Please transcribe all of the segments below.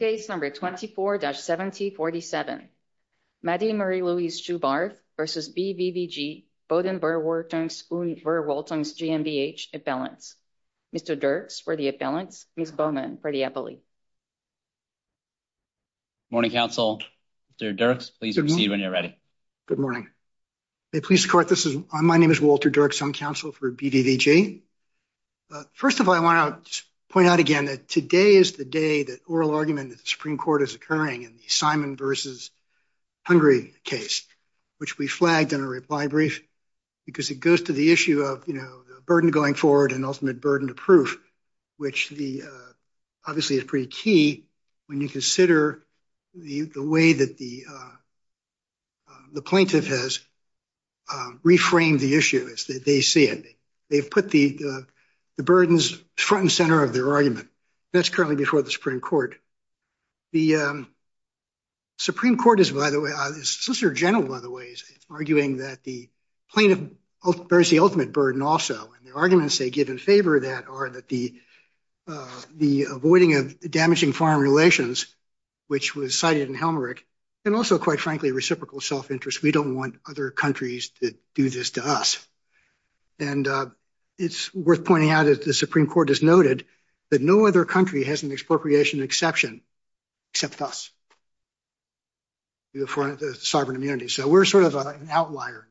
Case number 24-7047. Mady Marie-Louise Schubarth v. BVVG Bodenverwertungs- Und-Verwaltungs GMBH Imbalance. Mr. Dirks for the imbalance, Ms. Bowman for the appellee. Morning, counsel. Mr. Dirks, please proceed when you're ready. Good morning. May I please start? My name is Walter Dirks. I'm counsel for BVVG. But first of all, I want to point out again that today is the day that oral argument of the Supreme Court is occurring in the Simon v. Hungry case, which we flagged in a reply brief, because it goes to the issue of, you know, the burden going forward and ultimate burden of proof, which the obviously is pretty key when you consider the way that the plaintiff has reframed the issue as they see it. They've put the burdens front and center of their argument. That's currently before the Supreme Court. The Supreme Court is, by the way, the Solicitor General, by the way, is arguing that the plaintiff bears the ultimate burden also, and the arguments they give in favor of that are that the avoiding of damaging foreign relations, which was cited in Helmerich, and also, quite frankly, reciprocal self-interest. We don't want other countries to do this to us. And it's worth pointing out that the Supreme Court has noted that no other country has an expropriation exception except us. You have foreign sovereign immunity. So we're sort of an outlier.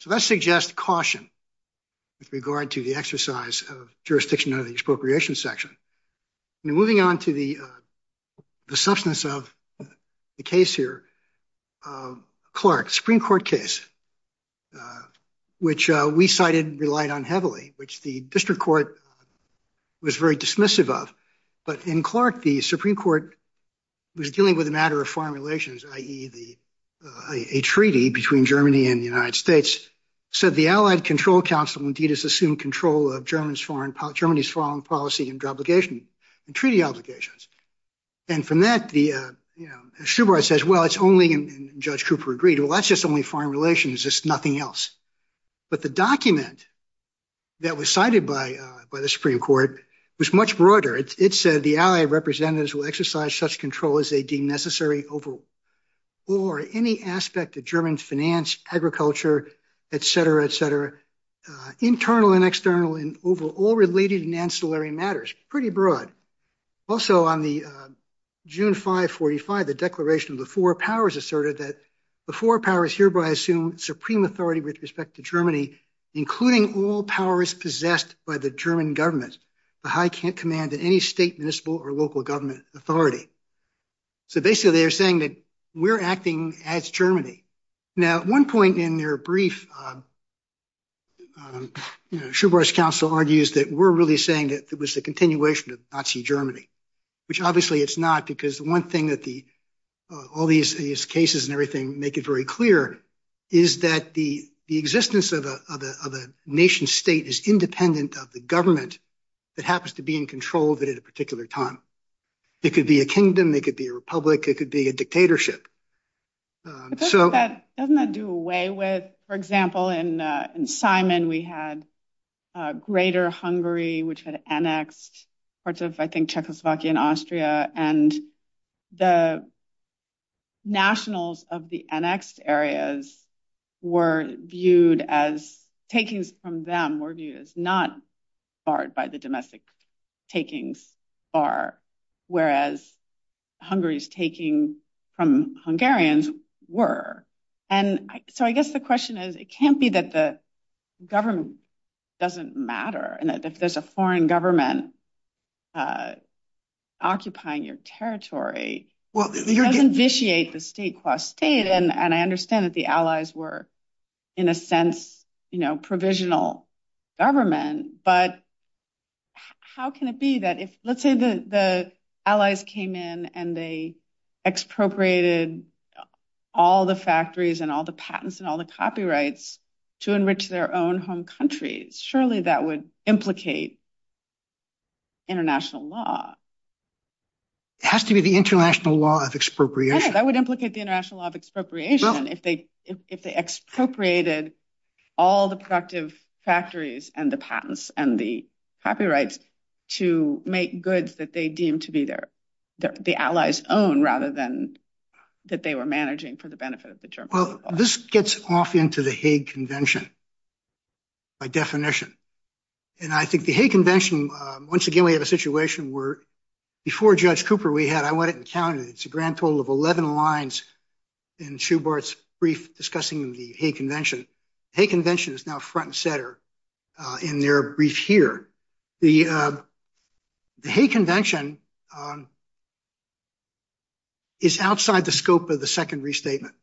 So that suggests caution with regard to the exercise of jurisdiction of the expropriation section. Moving on to the substance of the case here, Clark, Supreme Court case, which we cited and relied on heavily, which the district court was very dismissive of. But in Clark, the Supreme Court was dealing with a matter of foreign relations, i.e., a treaty between Germany and the United States, said the Allied Control Council has assumed control of Germany's foreign policy and treaty obligations. And from that, Schubert says, well, it's only, and Judge Cooper agreed, well, that's just only foreign relations, it's nothing else. But the document that was cited by the Supreme Court was much broader. It said, the Allied representatives will exercise such control as they deem necessary over or any aspect of German finance, agriculture, etc., etc., internal and external and overall related and ancillary matters, pretty broad. Also on the June 5, 45, the declaration of the four powers asserted that the four powers hereby assume supreme authority with respect to Germany, including all powers possessed by the German government, the high command in any state, municipal or local government authority. So basically, they're saying that we're acting as Germany. Now, at one point in their brief, Schubert's counsel argues that we're really saying that it was a continuation of Nazi Germany, which obviously it's not because the one thing that all these cases and everything make it very clear is that the existence of a nation state is independent of the government that happens to be in control of it at a particular time. It could be a kingdom, it could be a republic, it could be a dictatorship. Doesn't that do away with, for example, in Simon, we had greater Hungary, which had annexed parts of, I think, Czechoslovakia and Austria, and the nationals of the annexed areas were viewed as, takings from them were viewed as not barred by the domestic takings bar, whereas Hungary's taking from Hungarians were. So I guess the question is, it can't be that the government doesn't matter and that if there's a foreign government occupying your territory, it doesn't vitiate the state qua state. And I understand that the Allies were, in a sense, provisional government, but how can it be that if, let's say, the Allies came in and they expropriated all the factories and all the patents and all the copyrights to enrich their own home countries, surely that would implicate international law. It has to be the international law of expropriation. That would implicate the international law of expropriation if they expropriated all the productive factories and the patents and the copyrights to make goods that they deemed to be the Allies' own, rather than that they were managing for the benefit of the German people. This gets off into the Hague Convention by definition. And I think the Hague Convention, once again, we have a situation where before Judge Cooper we had, I went and counted, it's a grand total of 11 lines in Schubert's brief discussing the Hague Convention. The Hague Convention is now front and center in their brief here. The Hague Convention is outside the scope of the second restatement.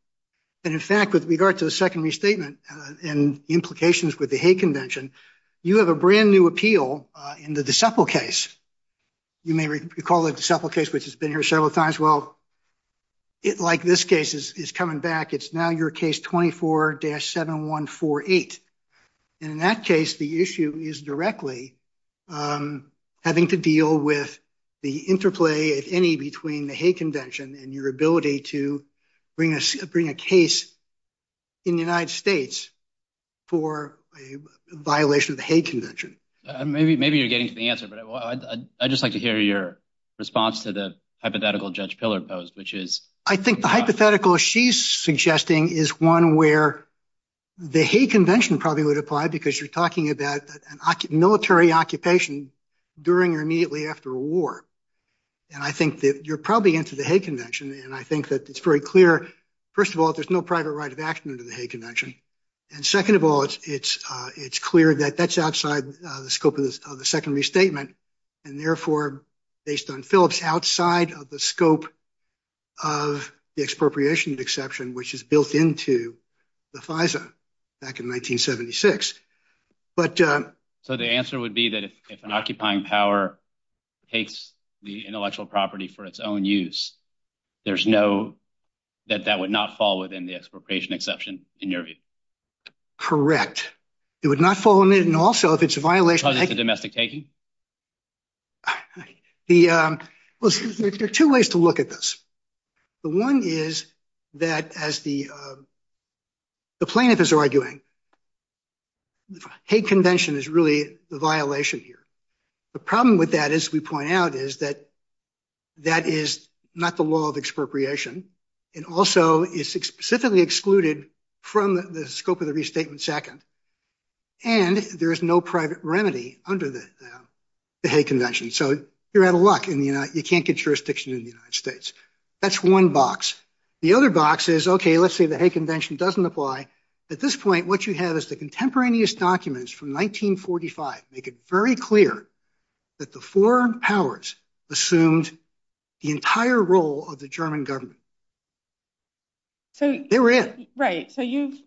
And in fact, with regard to the second restatement and implications with the Hague Convention, you have a brand new appeal in the DeCepel case. You may recall the DeCepel case, which has been here several times. Well, it, like this case, is coming back. It's now your case 24-7148. And in that case, the issue is directly having to deal with the interplay, if any, between the Hague Convention and your ability to bring a case in the United States for a violation of the Hague Convention. Maybe you're getting to the answer, but I'd just like to hear your response to the hypothetical Judge Pillar posed, which is... I think the hypothetical she's suggesting is one where the Hague Convention probably would apply, because you're talking about a military occupation during or immediately after a war. And I think that you're probably into the Hague Convention, and I think that it's very clear, first of all, there's no private right of action under the Hague Convention. And second of all, it's clear that that's outside the scope of the second restatement, and therefore, based on Phillips, outside of the scope of the expropriation exception, which is built into the FISA back in 1976. But... So the answer would be that if an occupying power takes the intellectual property for its own use, there's no... that that would not fall within the expropriation exception, in your view? Correct. It would not fall within, also, if it's a violation... Because it's a domestic taking? The... Well, there are two ways to look at this. The one is that as the plaintiff is arguing, the Hague Convention is really the violation here. The problem with that, as we point out, is that that is not the law of expropriation. It also is specifically excluded from the scope of the the Hague Convention. So you're out of luck in the United... You can't get jurisdiction in the United States. That's one box. The other box is, okay, let's say the Hague Convention doesn't apply. At this point, what you have is the contemporaneous documents from 1945 make it very clear that the foreign powers assumed the entire role of the German government. So... They were in. Right. So you've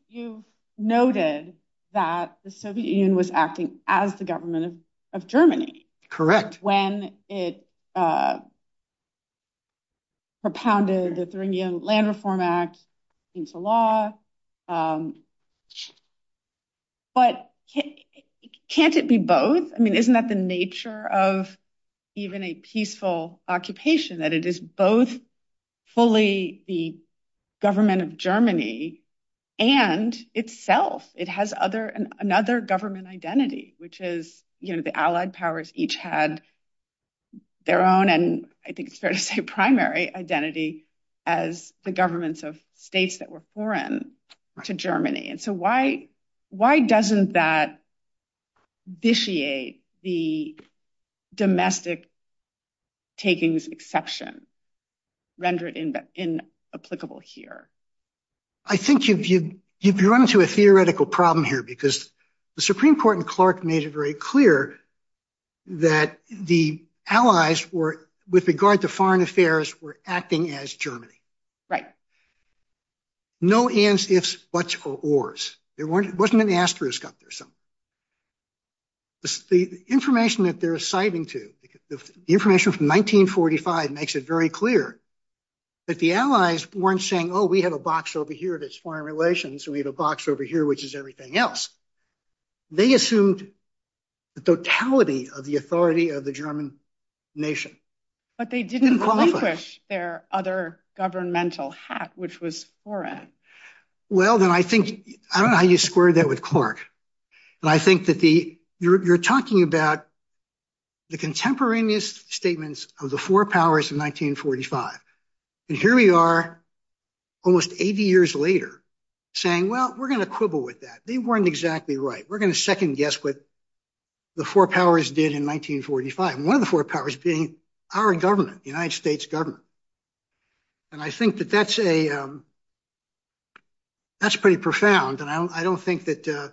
noted that the Soviet Union was acting as the government of Germany. Correct. When it propounded the Thuringian Land Reform Act into law. But can't it be both? I mean, isn't that the nature of even a peaceful occupation, that it is both fully the government of Germany and itself? It has another government identity, which is, you know, the Allied powers each had their own, and I think it's fair to say, primary identity as the governments of states that were foreign to Germany. And so why doesn't that vitiate the domestic takings exception, render it inapplicable here? I think you've run into a theoretical problem here, because the Supreme Court and Clark made it very clear that the Allies were, with regard to foreign affairs, were acting as Germany. Right. No ands, ifs, buts, or ors. There wasn't an asterisk up there somewhere. The information that they're assigning to, the information from 1945 makes it very clear that the Allies weren't saying, oh, we have a box over here that's foreign relations, and we have a box over here, which is everything else. They assumed the totality of the authority of the German nation. But they didn't relinquish their other governmental hat, which was foreign. Well, then I think, I don't know how you square that with Clark. And I think that you're talking about the contemporaneous statements of the four powers of 1945. And here we are, almost 80 years later, saying, well, we're going to quibble with that. They weren't exactly right. We're going to second guess what the four powers did in 1945. One of the four powers being our government, the United States government. And I think that that's a, that's pretty profound. I don't think that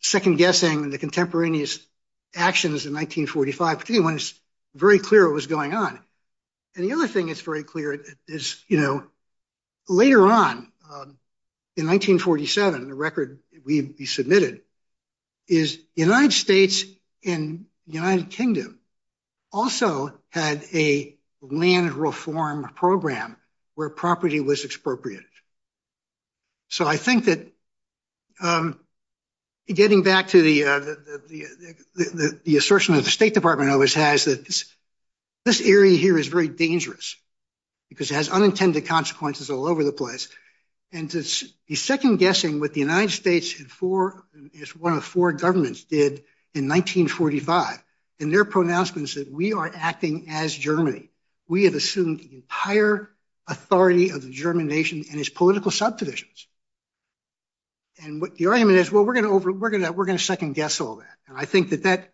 second guessing the contemporaneous actions in 1945, particularly when it's very clear what was going on. And the other thing that's very clear is, you know, later on in 1947, the record we submitted is the United States and the United Kingdom also had a land reform program where property was expropriated. So I think that getting back to the assertion that the State Department always has that this area here is very dangerous, because it has unintended consequences all over the place. And the second guessing what the United States and four, it's one of the four governments did in 1945. And their pronouncements that we are acting as Germany, we have assumed the entire authority of the German nation and its political subdivisions. And what the argument is, well, we're going to over, we're going to, we're going to second guess all that. And I think that that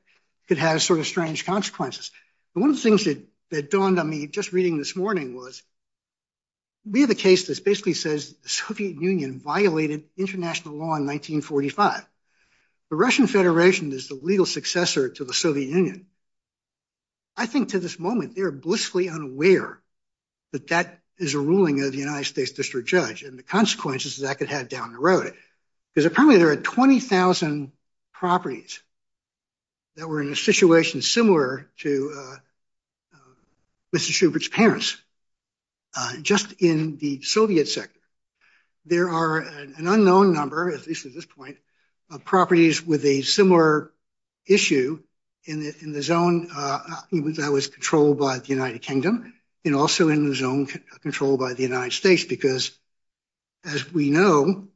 could have sort of strange consequences. And one of the things that that dawned on me just reading this morning was, we have a case that basically says the Soviet Union violated international law in 1945. The Russian Federation is the legal successor to the Soviet Union. I think to this moment, they're blissfully unaware that that is a ruling of the United States District Judge and the consequences that could have down the road, because apparently there are 20,000 properties that were in a situation similar to Mr. Schubert's parents, just in the Soviet sector. There are an unknown number, at least at this point, of properties with a similar issue in the zone that was controlled by the United Kingdom, and also in the zone controlled by the United States, because, as we know,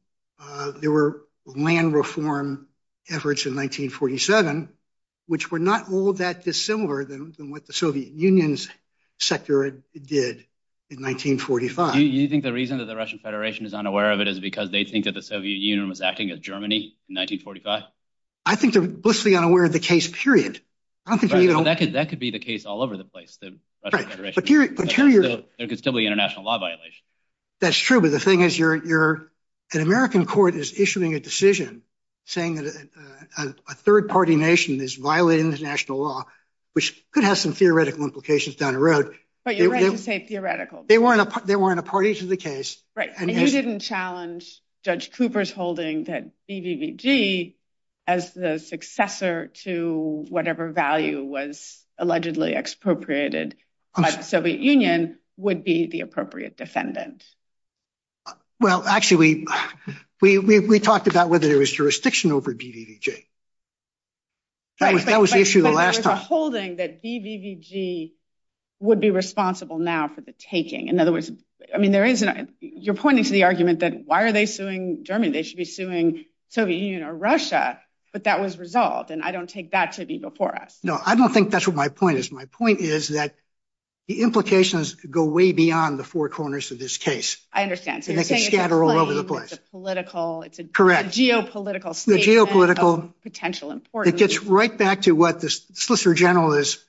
there were land reform efforts in 1947, which were not all that dissimilar than what the Soviet Union's sector did in 1945. You think the reason that the Russian Federation is unaware of it is because they think that the Soviet Union was acting as Germany in 1945? I think they're blissfully unaware of the case, period. That could be the case all over the place. There could still be international law violations. That's true, but the thing is, an American court is issuing a decision saying that a third-party nation is violating international law, which could have some theoretical implications down the road. But you're right to say theoretical. They weren't a party to the case. Right, and you didn't challenge Judge Cooper's holding that BVVG, as the successor to whatever value was allegedly expropriated by the Soviet Union, would be the appropriate defendant. Well, actually, we talked about whether there was jurisdiction over BVVG. Right, but there was a holding that BVVG would be responsible now for the taking. In other words, I mean, you're pointing to the argument that why are they suing Germany? They should be suing Soviet Union or Russia, but that was resolved, and I don't take that to be before us. No, I don't think that's what my point is. My point is that the implications go way beyond the four corners of this case. I understand. So you're saying it's a claim, it's a geopolitical statement of potential importance. It gets right back to what the Solicitor General is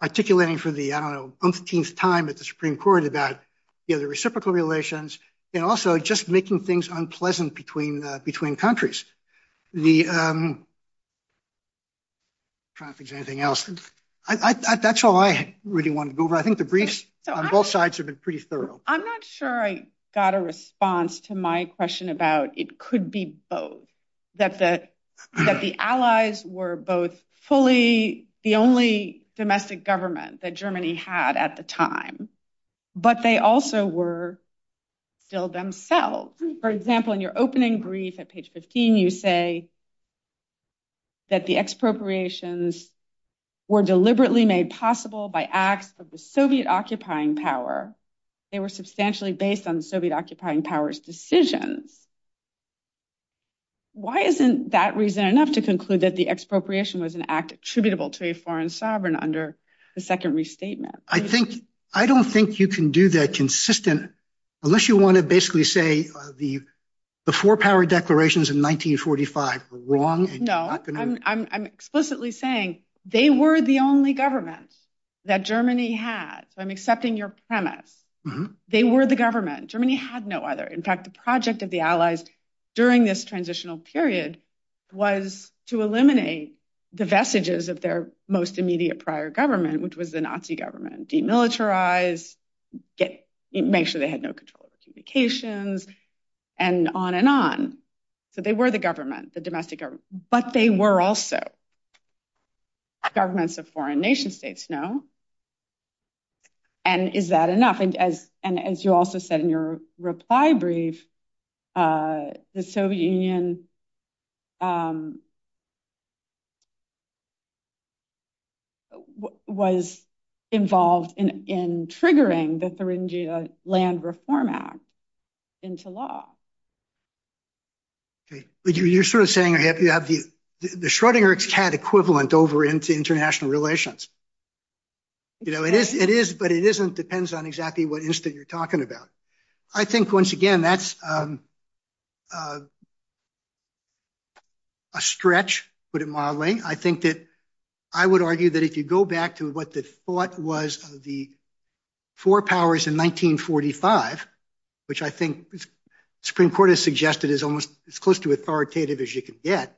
articulating for the, I don't know, umpteenth time at the Supreme Court about the other reciprocal relations, and also just making things unpleasant between countries. That's all I really wanted to go over. I think the briefs on both sides have been pretty thorough. I'm not sure I got a response to my question about it could be both, that the allies were both fully the only domestic government that Germany had at the time, but they also were still themselves. For example, in your opening brief at page 15, you say that the expropriations were deliberately made possible by acts of the Soviet occupying power. They were substantially based on Soviet occupying power's decisions. Why isn't that reason enough to conclude that the expropriation was an act attributable to a foreign sovereign under the second restatement? I don't think you can do that consistent, unless you want to basically say the four power declarations in 1945 were wrong. No, I'm explicitly saying they were the only governments that Germany had. So I'm accepting your premise. They were the government. Germany had no other. In fact, the project of the allies during this transitional period was to eliminate the vestiges of their most immediate prior government, which was the Nazi government, demilitarize, make sure they had no control of communications, and on and on. So they were the government, the domestic government, but they were also governments of foreign nation states now. And is that enough? And as you also said in your reply brief, the Soviet Union was involved in triggering the Thuringia Land Reform Act into law. Okay, but you're sort of saying you have the Schrodinger's cat equivalent over into international relations. You know, it is, but it isn't depends on exactly what instant you're talking about. I think once again, that's a stretch, put it mildly. I think that I would argue that if you go back to what the thought was of the four powers in 1945, which I think the Supreme Court has suggested is almost as close to authoritative as you can get,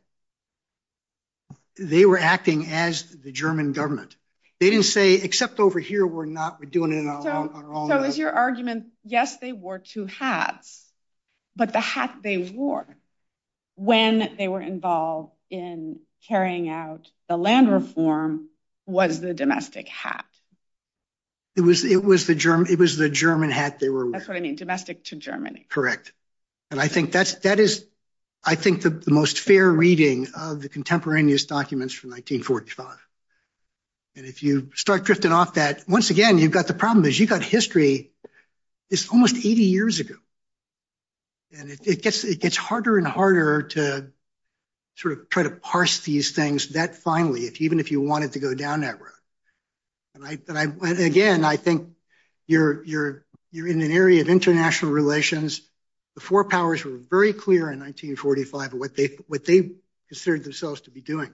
they were acting as the German government. They didn't say, except over here, we're doing it on our own. So is your argument, yes, they wore two hats, but the hat they wore when they were involved in carrying out the land reform was the domestic hat. It was the German hat they were wearing. That's what I mean, domestic to Germany. Correct. And I think that is, I think the most fair reading of the contemporaneous documents from 1945. And if you start drifting off that, once again, you've got the problem is you've got history, it's almost 80 years ago. And it gets harder and harder to sort of try to parse these things that finally, even if you wanted to go down that road. And again, I think you're in an area of international relations, the four powers were very clear in 1945 of what they considered themselves to be doing.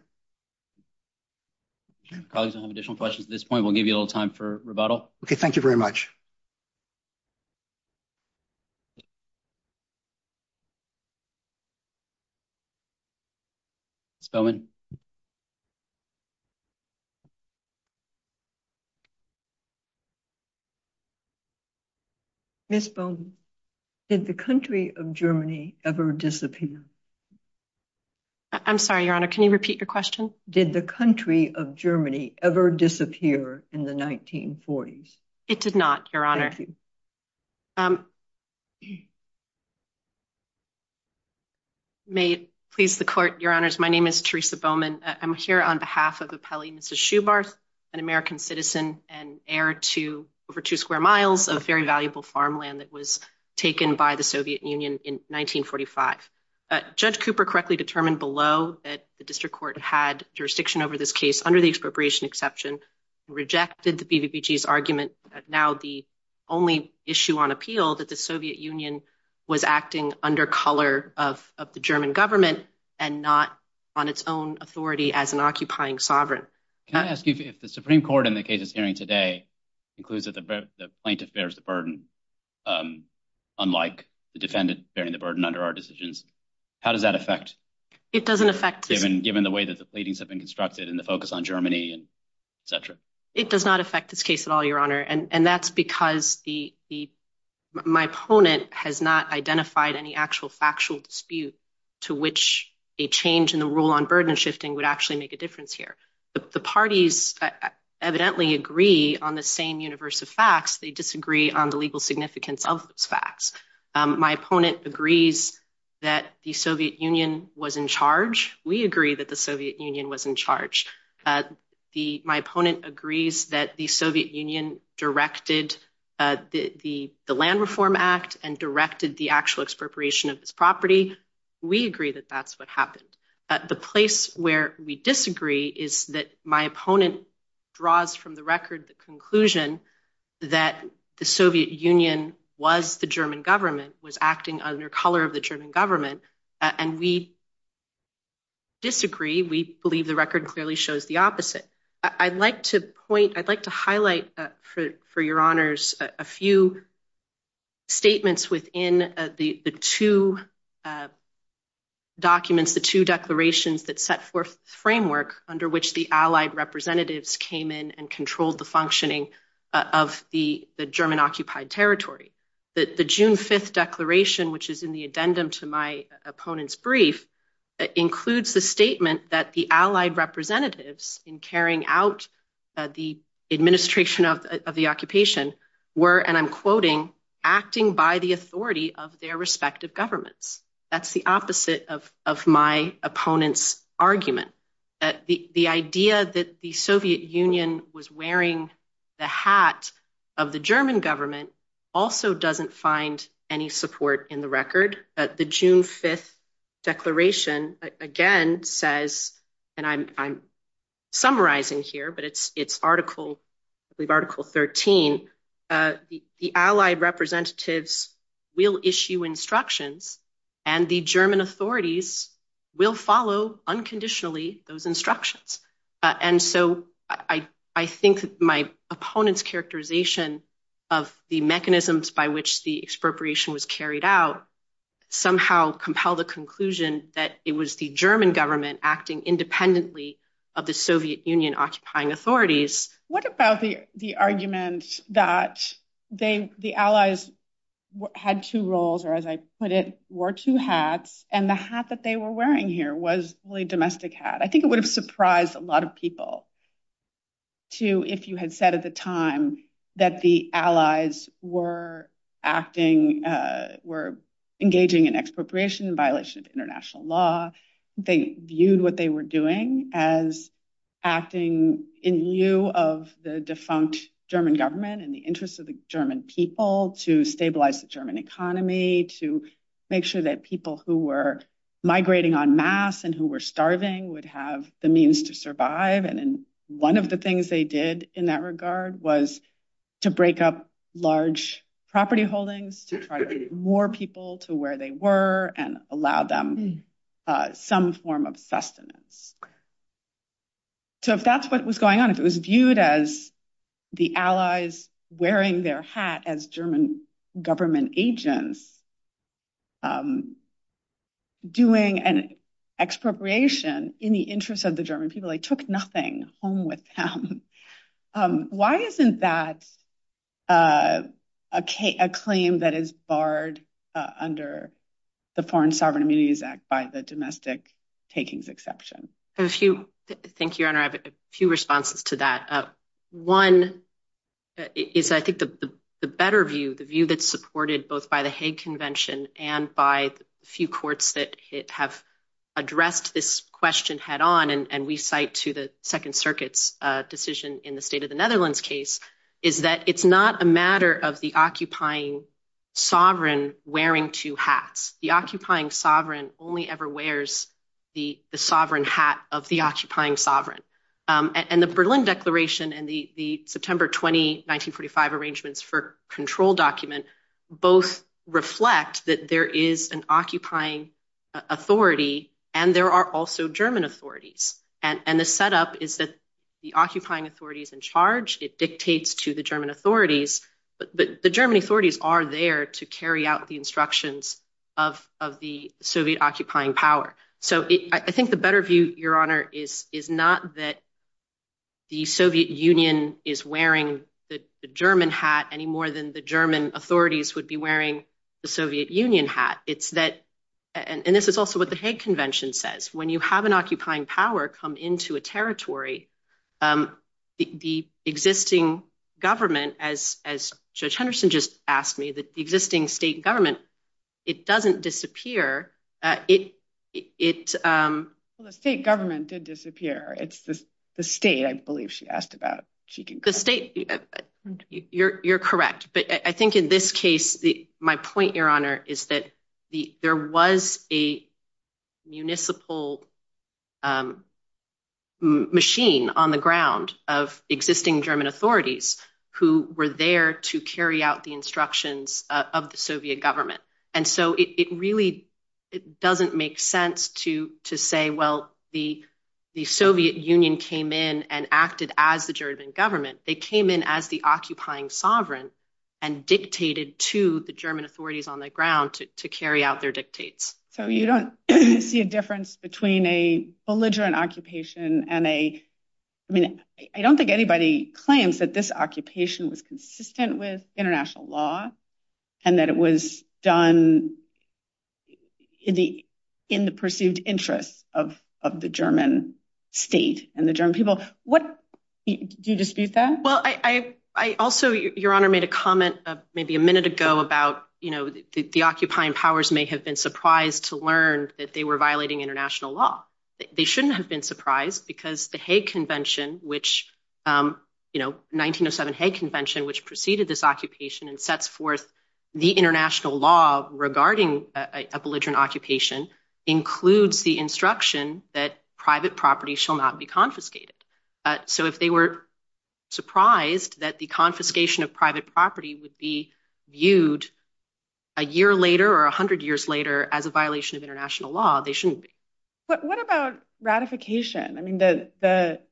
Colleagues, I have additional questions. At this point, we'll give you a little time for rebuttal. Okay, thank you very much. Ms. Bowman. Ms. Bowman, did the country of Germany ever disappear? I'm sorry, Your Honor, can you repeat your question? Did the country of Germany ever disappear in the 1940s? It did not, Your Honor. May it please the court, Your Honors, my name is Teresa Bowman. I'm here on behalf of Appellee Mrs. Schubert, an American citizen and heir to over two square miles of very valuable farmland that was taken by the Soviet Union in 1945. Judge Cooper correctly determined below that the district court had jurisdiction over this case under the expropriation exception, rejected the BVBG's argument that now the only issue on appeal that the Soviet Union was acting under color of the German government and not on its own authority as an occupying sovereign. Can I ask you if the Supreme Court in the case it's hearing today includes that the plaintiff bears the burden, unlike the defendant bearing the burden under our decisions, how does that affect? It doesn't affect. Given the way that the pleadings have been constructed and the focus on Germany and et cetera. It does not affect this case at all, and that's because my opponent has not identified any actual factual dispute to which a change in the rule on burden shifting would actually make a difference here. The parties evidently agree on the same universe of facts. They disagree on the legal significance of those facts. My opponent agrees that the Soviet Union was in charge. We agree that the Soviet Union was in charge. The my opponent agrees that the Soviet Union directed the Land Reform Act and directed the actual expropriation of this property. We agree that that's what happened. The place where we disagree is that my opponent draws from the record the conclusion that the Soviet Union was the German government, was acting under color of the German government, and we disagree. We believe the record clearly shows the opposite. I'd like to highlight, for your honors, a few statements within the two documents, the two declarations that set forth the framework under which the Allied representatives came in and controlled the functioning of the German occupied territory. The June 5th declaration, which is in the addendum to my opponent's brief, includes the statement that the Allied representatives in carrying out the administration of the occupation were, and I'm quoting, acting by the authority of their respective governments. That's the opposite of my opponent's argument. The idea that the Soviet Union was wearing the hat of the German government also doesn't find any support in the record. The June 5th declaration again says, and I'm summarizing here, but it's Article 13, the Allied representatives will issue instructions and the German authorities will follow unconditionally those instructions. And so I think my opponent's characterization of the mechanisms by which the expropriation was carried out somehow compelled the conclusion that it was the German government acting independently of the Soviet Union occupying authorities. What about the argument that the Allies had two roles, or as I put it, wore two hats, and the hat that they were wearing here was really a domestic hat? I think it would have surprised a lot of people if you had said at the time that the Allies were engaging in expropriation in violation of international law. They viewed what they were doing as acting in lieu of the defunct German government and the interests of the German people to stabilize the German economy, to make sure that people who were migrating en masse and who were starving would have the means to survive. And one of the things they did in that regard was to break up large property holdings to try to get more people to where they were and allow them some form of sustenance. So if that's what was going on, if it was viewed as the Allies wearing their hat as government agents doing an expropriation in the interests of the German people, they took nothing home with them. Why isn't that a claim that is barred under the Foreign Sovereign Immunities Act by the domestic takings exception? A few. Thank you, Your Honor. I have a few responses to that. One is, I think, the better view, the view that's supported both by the Hague Convention and by the few courts that have addressed this question head on, and we cite to the Second Circuit's decision in the state of the Netherlands case, is that it's not a matter of the occupying sovereign wearing two hats. The occupying sovereign. And the Berlin Declaration and the September 20, 1945 arrangements for control document both reflect that there is an occupying authority and there are also German authorities. And the setup is that the occupying authority is in charge, it dictates to the German authorities, but the German authorities are there to carry out the instructions of the Soviet occupying power. So, I think the better view, Your Honor, is not that the Soviet Union is wearing the German hat any more than the German authorities would be wearing the Soviet Union hat. It's that, and this is also what the Hague Convention says, when you have an occupying power come into a territory, the existing government, as Judge Henderson just asked me, the existing state government, it doesn't disappear. The state government did disappear. It's the state, I believe she asked about. You're correct. But I think in this case, my point, Your Honor, is that there was a municipal machine on the ground of existing German authorities who were there to carry out instructions of the Soviet government. And so, it really doesn't make sense to say, well, the Soviet Union came in and acted as the German government. They came in as the occupying sovereign and dictated to the German authorities on the ground to carry out their dictates. So, you don't see a difference between a belligerent occupation and a, I mean, and that it was done in the perceived interest of the German state and the German people. What, do you dispute that? Well, I also, Your Honor, made a comment maybe a minute ago about, you know, the occupying powers may have been surprised to learn that they were violating international law. They shouldn't have been surprised because the Hague Convention, which, you know, 1907 Hague Convention, which preceded this occupation and sets forth the international law regarding a belligerent occupation includes the instruction that private property shall not be confiscated. So, if they were surprised that the confiscation of private property would be viewed a year later or a hundred years later as a violation of international law, they shouldn't be. But what about ratification? I mean, there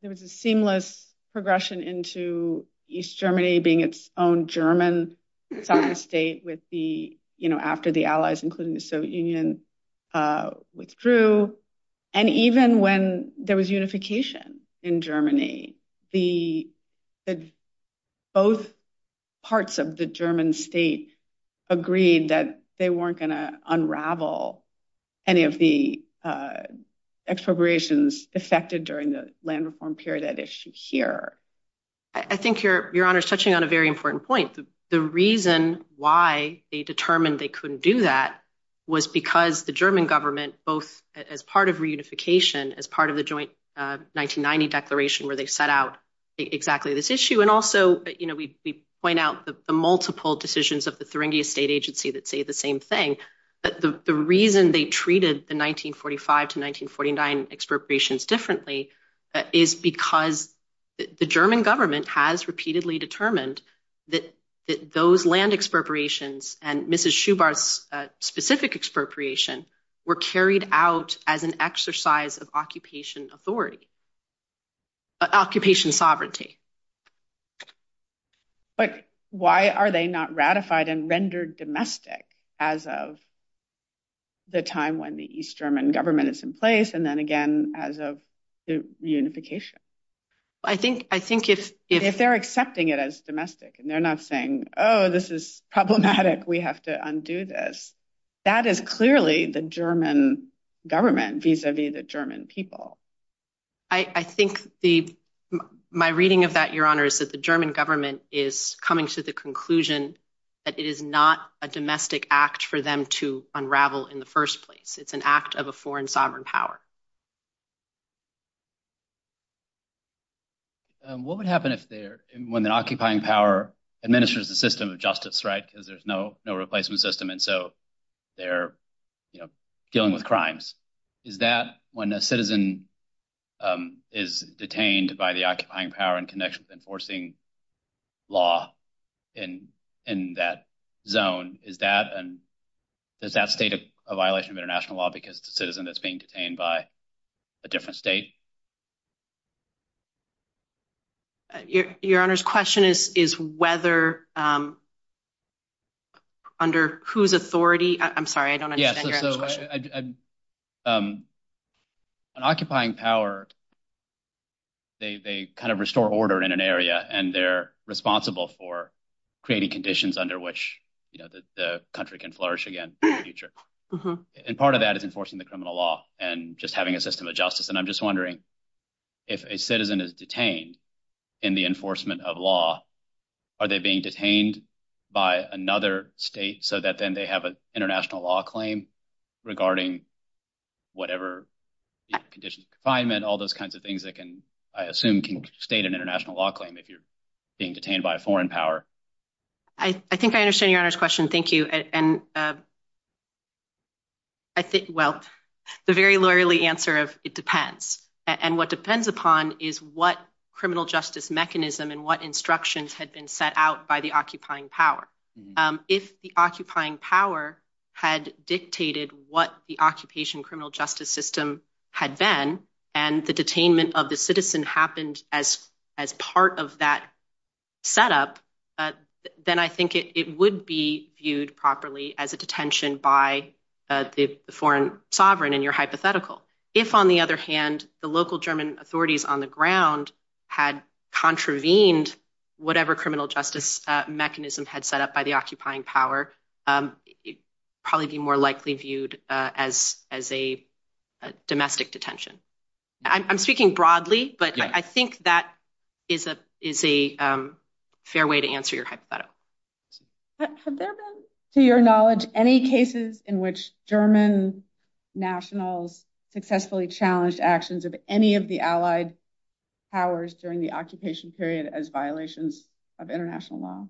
was a seamless progression into East Germany being its own German sovereign state with the, you know, after the allies, including the Soviet Union, withdrew. And even when there was unification in Germany, both parts of the German state agreed that they weren't going to unravel any of the expropriations affected during the land reform period at issue here. I think Your Honor is touching on a very important point. The reason why they determined they couldn't do that was because the German government, both as part of reunification, as part of the joint 1990 declaration where they set out exactly this issue, and also, you know, we point out the multiple decisions of the Thuringia State Agency that say the same thing. But the reason they treated the 1945 to 1949 expropriations differently is because the German government has repeatedly determined that those land expropriations and Mrs. Schubert's specific expropriation were carried out as an exercise of occupation authority, occupation sovereignty. But why are they not ratified and rendered domestic as of the time when the East German government is in place, and then again, as of the reunification? I think if they're accepting it as domestic, and they're not saying, oh, this is problematic, we have to undo this. That is clearly the German government vis-a-vis the German people. I think the, my reading of that, Your Honor, is that the German government is coming to the conclusion that it is not a domestic act for them to unravel in the first place. It's an act of a foreign sovereign power. What would happen if they're, when the occupying power administers the system of justice, right, because there's no replacement system, and so they're, you know, dealing with crimes. Is that when a citizen is detained by the occupying power in connection with enforcing law in that zone, is that, and does that state a violation of international law because the citizen that's being detained by a different state? Your Honor's question is whether, under whose authority, I'm sorry, I don't understand Your Honor's question. Yeah, so an occupying power, they kind of restore order in an area, and they're responsible for creating conditions under which, you know, the country can flourish again in the future, and part of that is enforcing the criminal law and just having a system of justice, and I'm wondering if a citizen is detained in the enforcement of law, are they being detained by another state so that then they have an international law claim regarding whatever conditions of confinement, all those kinds of things that can, I assume, can state an international law claim if you're being detained by a foreign power. I think I understand Your Honor's question, thank you, and I think, well, the very lawyerly answer of it depends, and what depends upon is what criminal justice mechanism and what instructions had been set out by the occupying power. If the occupying power had dictated what the occupation criminal justice system had been, and the detainment of the citizen happened as part of that setup, then I think it would be viewed properly as a detention by the foreign sovereign, in your hypothetical. If, on the other hand, the local German authorities on the ground had contravened whatever criminal justice mechanism had set up by the occupying power, it would probably be more likely viewed as a domestic detention. I'm speaking broadly, but I think that is a fair way to answer your hypothetical. Have there been, to your knowledge, any cases in which German nationals successfully challenged actions of any of the Allied powers during the occupation period as violations of international law?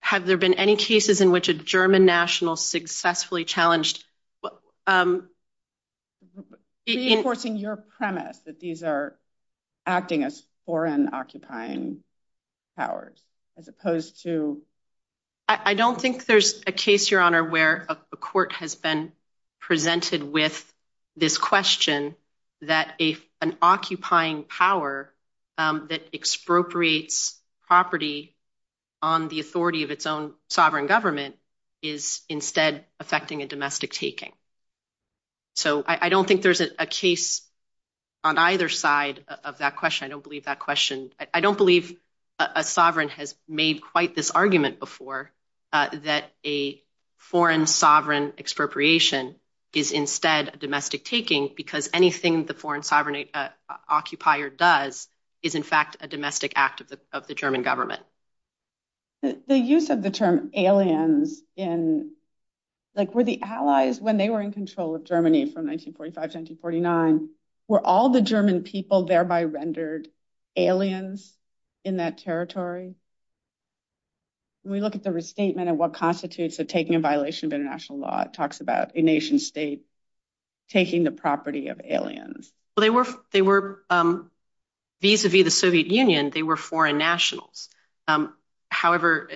Have there been any cases in which a German national successfully challenged actions of any of the Allied powers during the occupation period as violations of international law? Reinforcing your premise that these are acting as foreign occupying powers as opposed to... I don't think there's a case, Your Honor, where a court has been presented with this question that an occupying power that expropriates property on the authority of its own government is instead affecting a domestic taking. So I don't think there's a case on either side of that question. I don't believe a sovereign has made quite this argument before that a foreign sovereign expropriation is instead a domestic taking because anything the foreign sovereign occupier does is, in fact, a domestic act of the German government. The use of the term aliens in... Like, were the Allies, when they were in control of Germany from 1945 to 1949, were all the German people thereby rendered aliens in that territory? When we look at the restatement of what constitutes a taking in violation of international law, it talks about a nation-state taking the property of aliens. They were, vis-a-vis the Soviet Union, they were foreign nationals. However,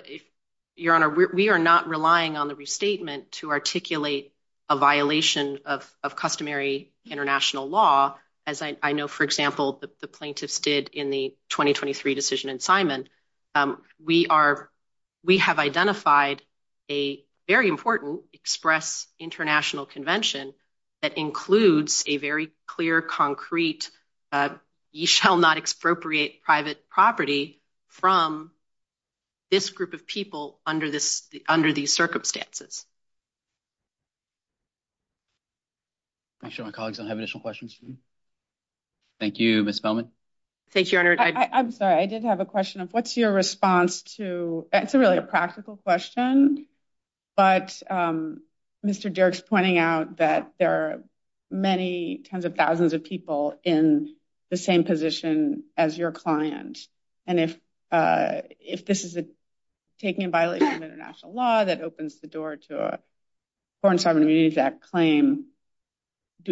Your Honor, we are not relying on the restatement to articulate a violation of customary international law as I know, for example, the plaintiffs did in the 2023 decision in Simon. We have identified a very important express international convention that includes a very clear, concrete, you shall not expropriate private property from this group of people under these circumstances. Make sure my colleagues don't have additional questions for me. Thank you, Ms. Feldman. Thank you, Your Honor. I'm sorry, I did have a question of what's your response to... It's really a practical question, but Mr. Derrick's pointing out that there are many tens of thousands of people in the same position as your client. And if this is a taking in violation of international law that opens the door to a Foreign Sovereign Communities Act claim,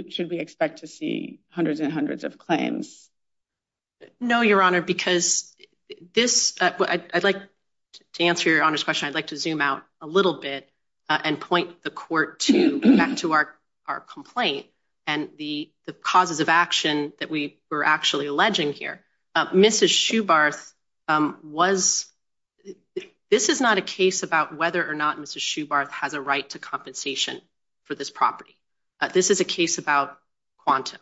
should we expect to see hundreds and hundreds of claims? No, Your Honor, because this... I'd like to answer Your Honor's question. I'd like to zoom out a little bit and point the court to back to our complaint and the causes of action that we were actually alleging here. Mrs. Shoebarth was... This is not a case about whether or not Mrs. Shoebarth has a right to compensation for this property. This is a case about quantum.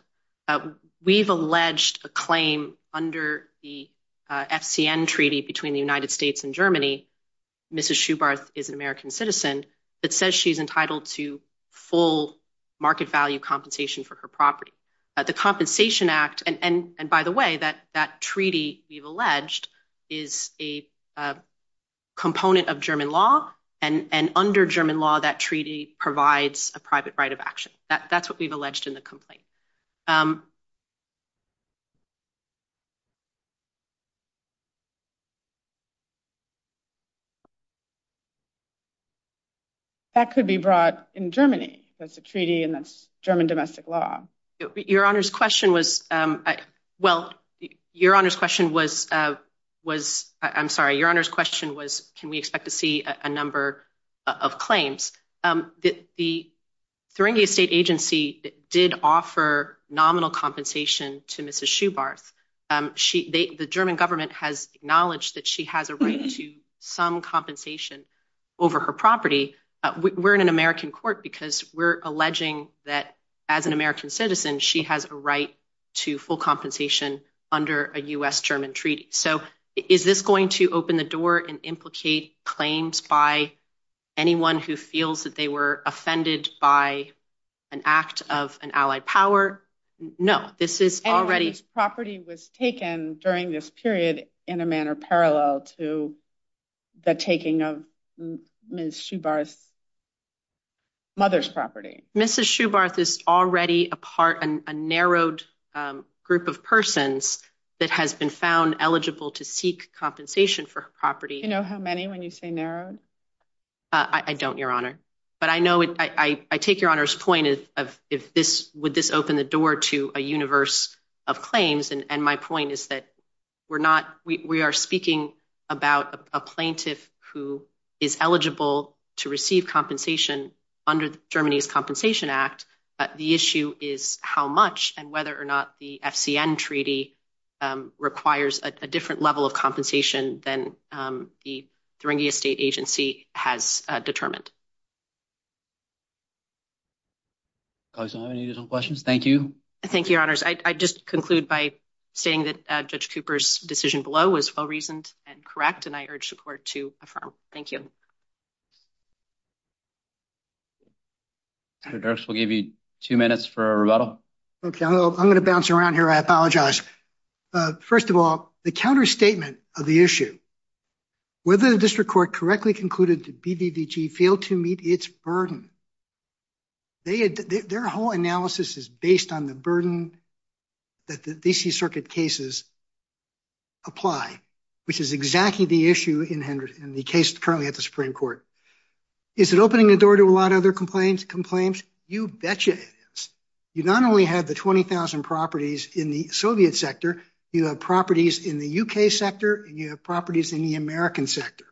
We've alleged a claim under the FCN Treaty between the United States and Germany, Mrs. Shoebarth is an American citizen that says she's entitled to full market value compensation for her property. The Compensation Act... And by the way, that treaty we've alleged is a component of German law, and under German law, that treaty provides a private right of action. That's what we've alleged in the complaint. That could be brought in Germany, that's a treaty and that's German domestic law. Your Honor's question was... Well, Your Honor's question was... I'm sorry, Your Honor's question was, can we expect to see a number of claims? The Thuringia State Agency did offer nominal compensation to Mrs. Shoebarth. The German government has acknowledged that she has a right to some compensation over her property. We're in an American court because we're alleging that as an American citizen, she has a right to full compensation under a U.S.-German treaty. So is this going to open the door and implicate claims by anyone who feels that they were offended by an act of an allied power? No, this is already... And this property was taken during this period in a manner parallel to the taking of Mrs. Shoebarth's mother's property. Mrs. Shoebarth is already a part, a narrowed group of persons that has been found eligible to seek compensation for her property. You know how many when you say narrowed? I don't, Your Honor. But I know, I take Your Honor's point of if this, would this open the door to a universe of claims? And my point is that we're not, we are speaking about a plaintiff who is eligible to receive compensation under Germany's Compensation Act. The issue is how much and whether or not the FCN treaty requires a different level of compensation than the Thuringia State Agency has determined. Colleagues, do you have any additional questions? Thank you. Thank you, Your Honors. I'd just conclude by stating that Judge Cooper's decision below was well-reasoned and correct, and I urge the Court to affirm. Thank you. Dirks, we'll give you two minutes for a rebuttal. Okay, I'm going to bounce around here. I apologize. First of all, the counterstatement of the issue, whether the District Court correctly concluded that BDDG failed to meet its burden, their whole analysis is based on the burden that the D.C. Circuit cases apply, which is exactly the issue in the case currently at the Supreme Court. Is it opening the door to a lot of other complaints? You betcha it is. You not only have the 20,000 properties in the Soviet sector, you have properties in the U.K. sector, and you have properties in the American sector.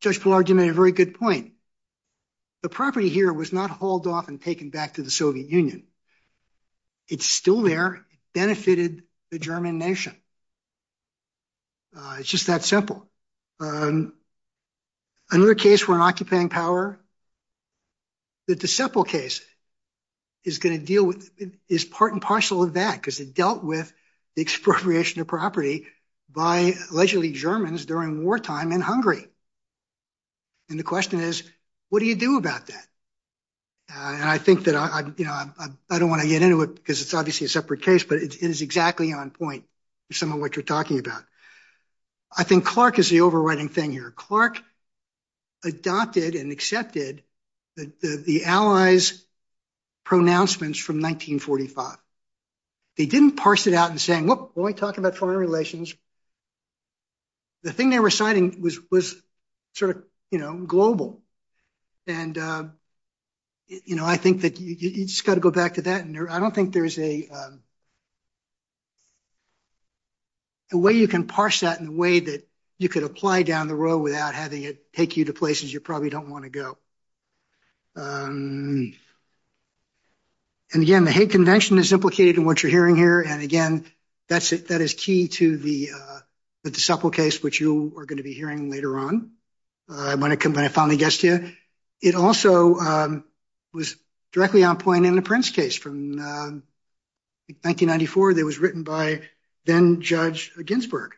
Judge Pillar, you made a very good point. The property here was not hauled off and taken back to the Soviet Union. It's still there. It benefited the German nation. It's just that simple. Another case for an occupying power, the D.C. case is going to deal with, is part and parcel of that, because it dealt with the expropriation of property by allegedly Germans during wartime in Hungary. And the question is, what do you do about that? And I think that, you know, I don't want to get into it because it's obviously a separate case, but it is exactly on point with some of what you're talking about. I think Clark is the overriding thing here. Clark adopted and accepted the Allies' pronouncements from 1945. They didn't parse it out and say, well, we're only talking about foreign relations. The thing they were citing was sort of, you know, global. And, you know, I think that you just got to go back to that. And I don't think there's a way you can parse that in a way that you could apply down the road without having it take you to places you probably don't want to go. And again, the Hague Convention is implicated in what you're hearing here. And again, that is key to the D.C. case, which you are going to be hearing later on when it finally gets to you. It also was directly on point in the Prince case from 1994 that was written by then Judge Ginsburg,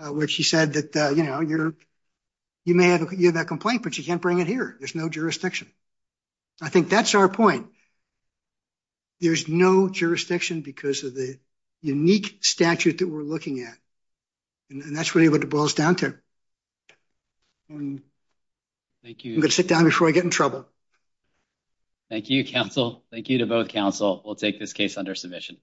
which he said that, you know, you may have a complaint, but you can't bring it here. There's no jurisdiction. I think that's our point. There's no jurisdiction because of the unique statute that we're looking at. And that's really what it boils down to. I'm going to sit down before I get in trouble. Thank you, counsel. Thank you to both counsel. We'll take this case under submission.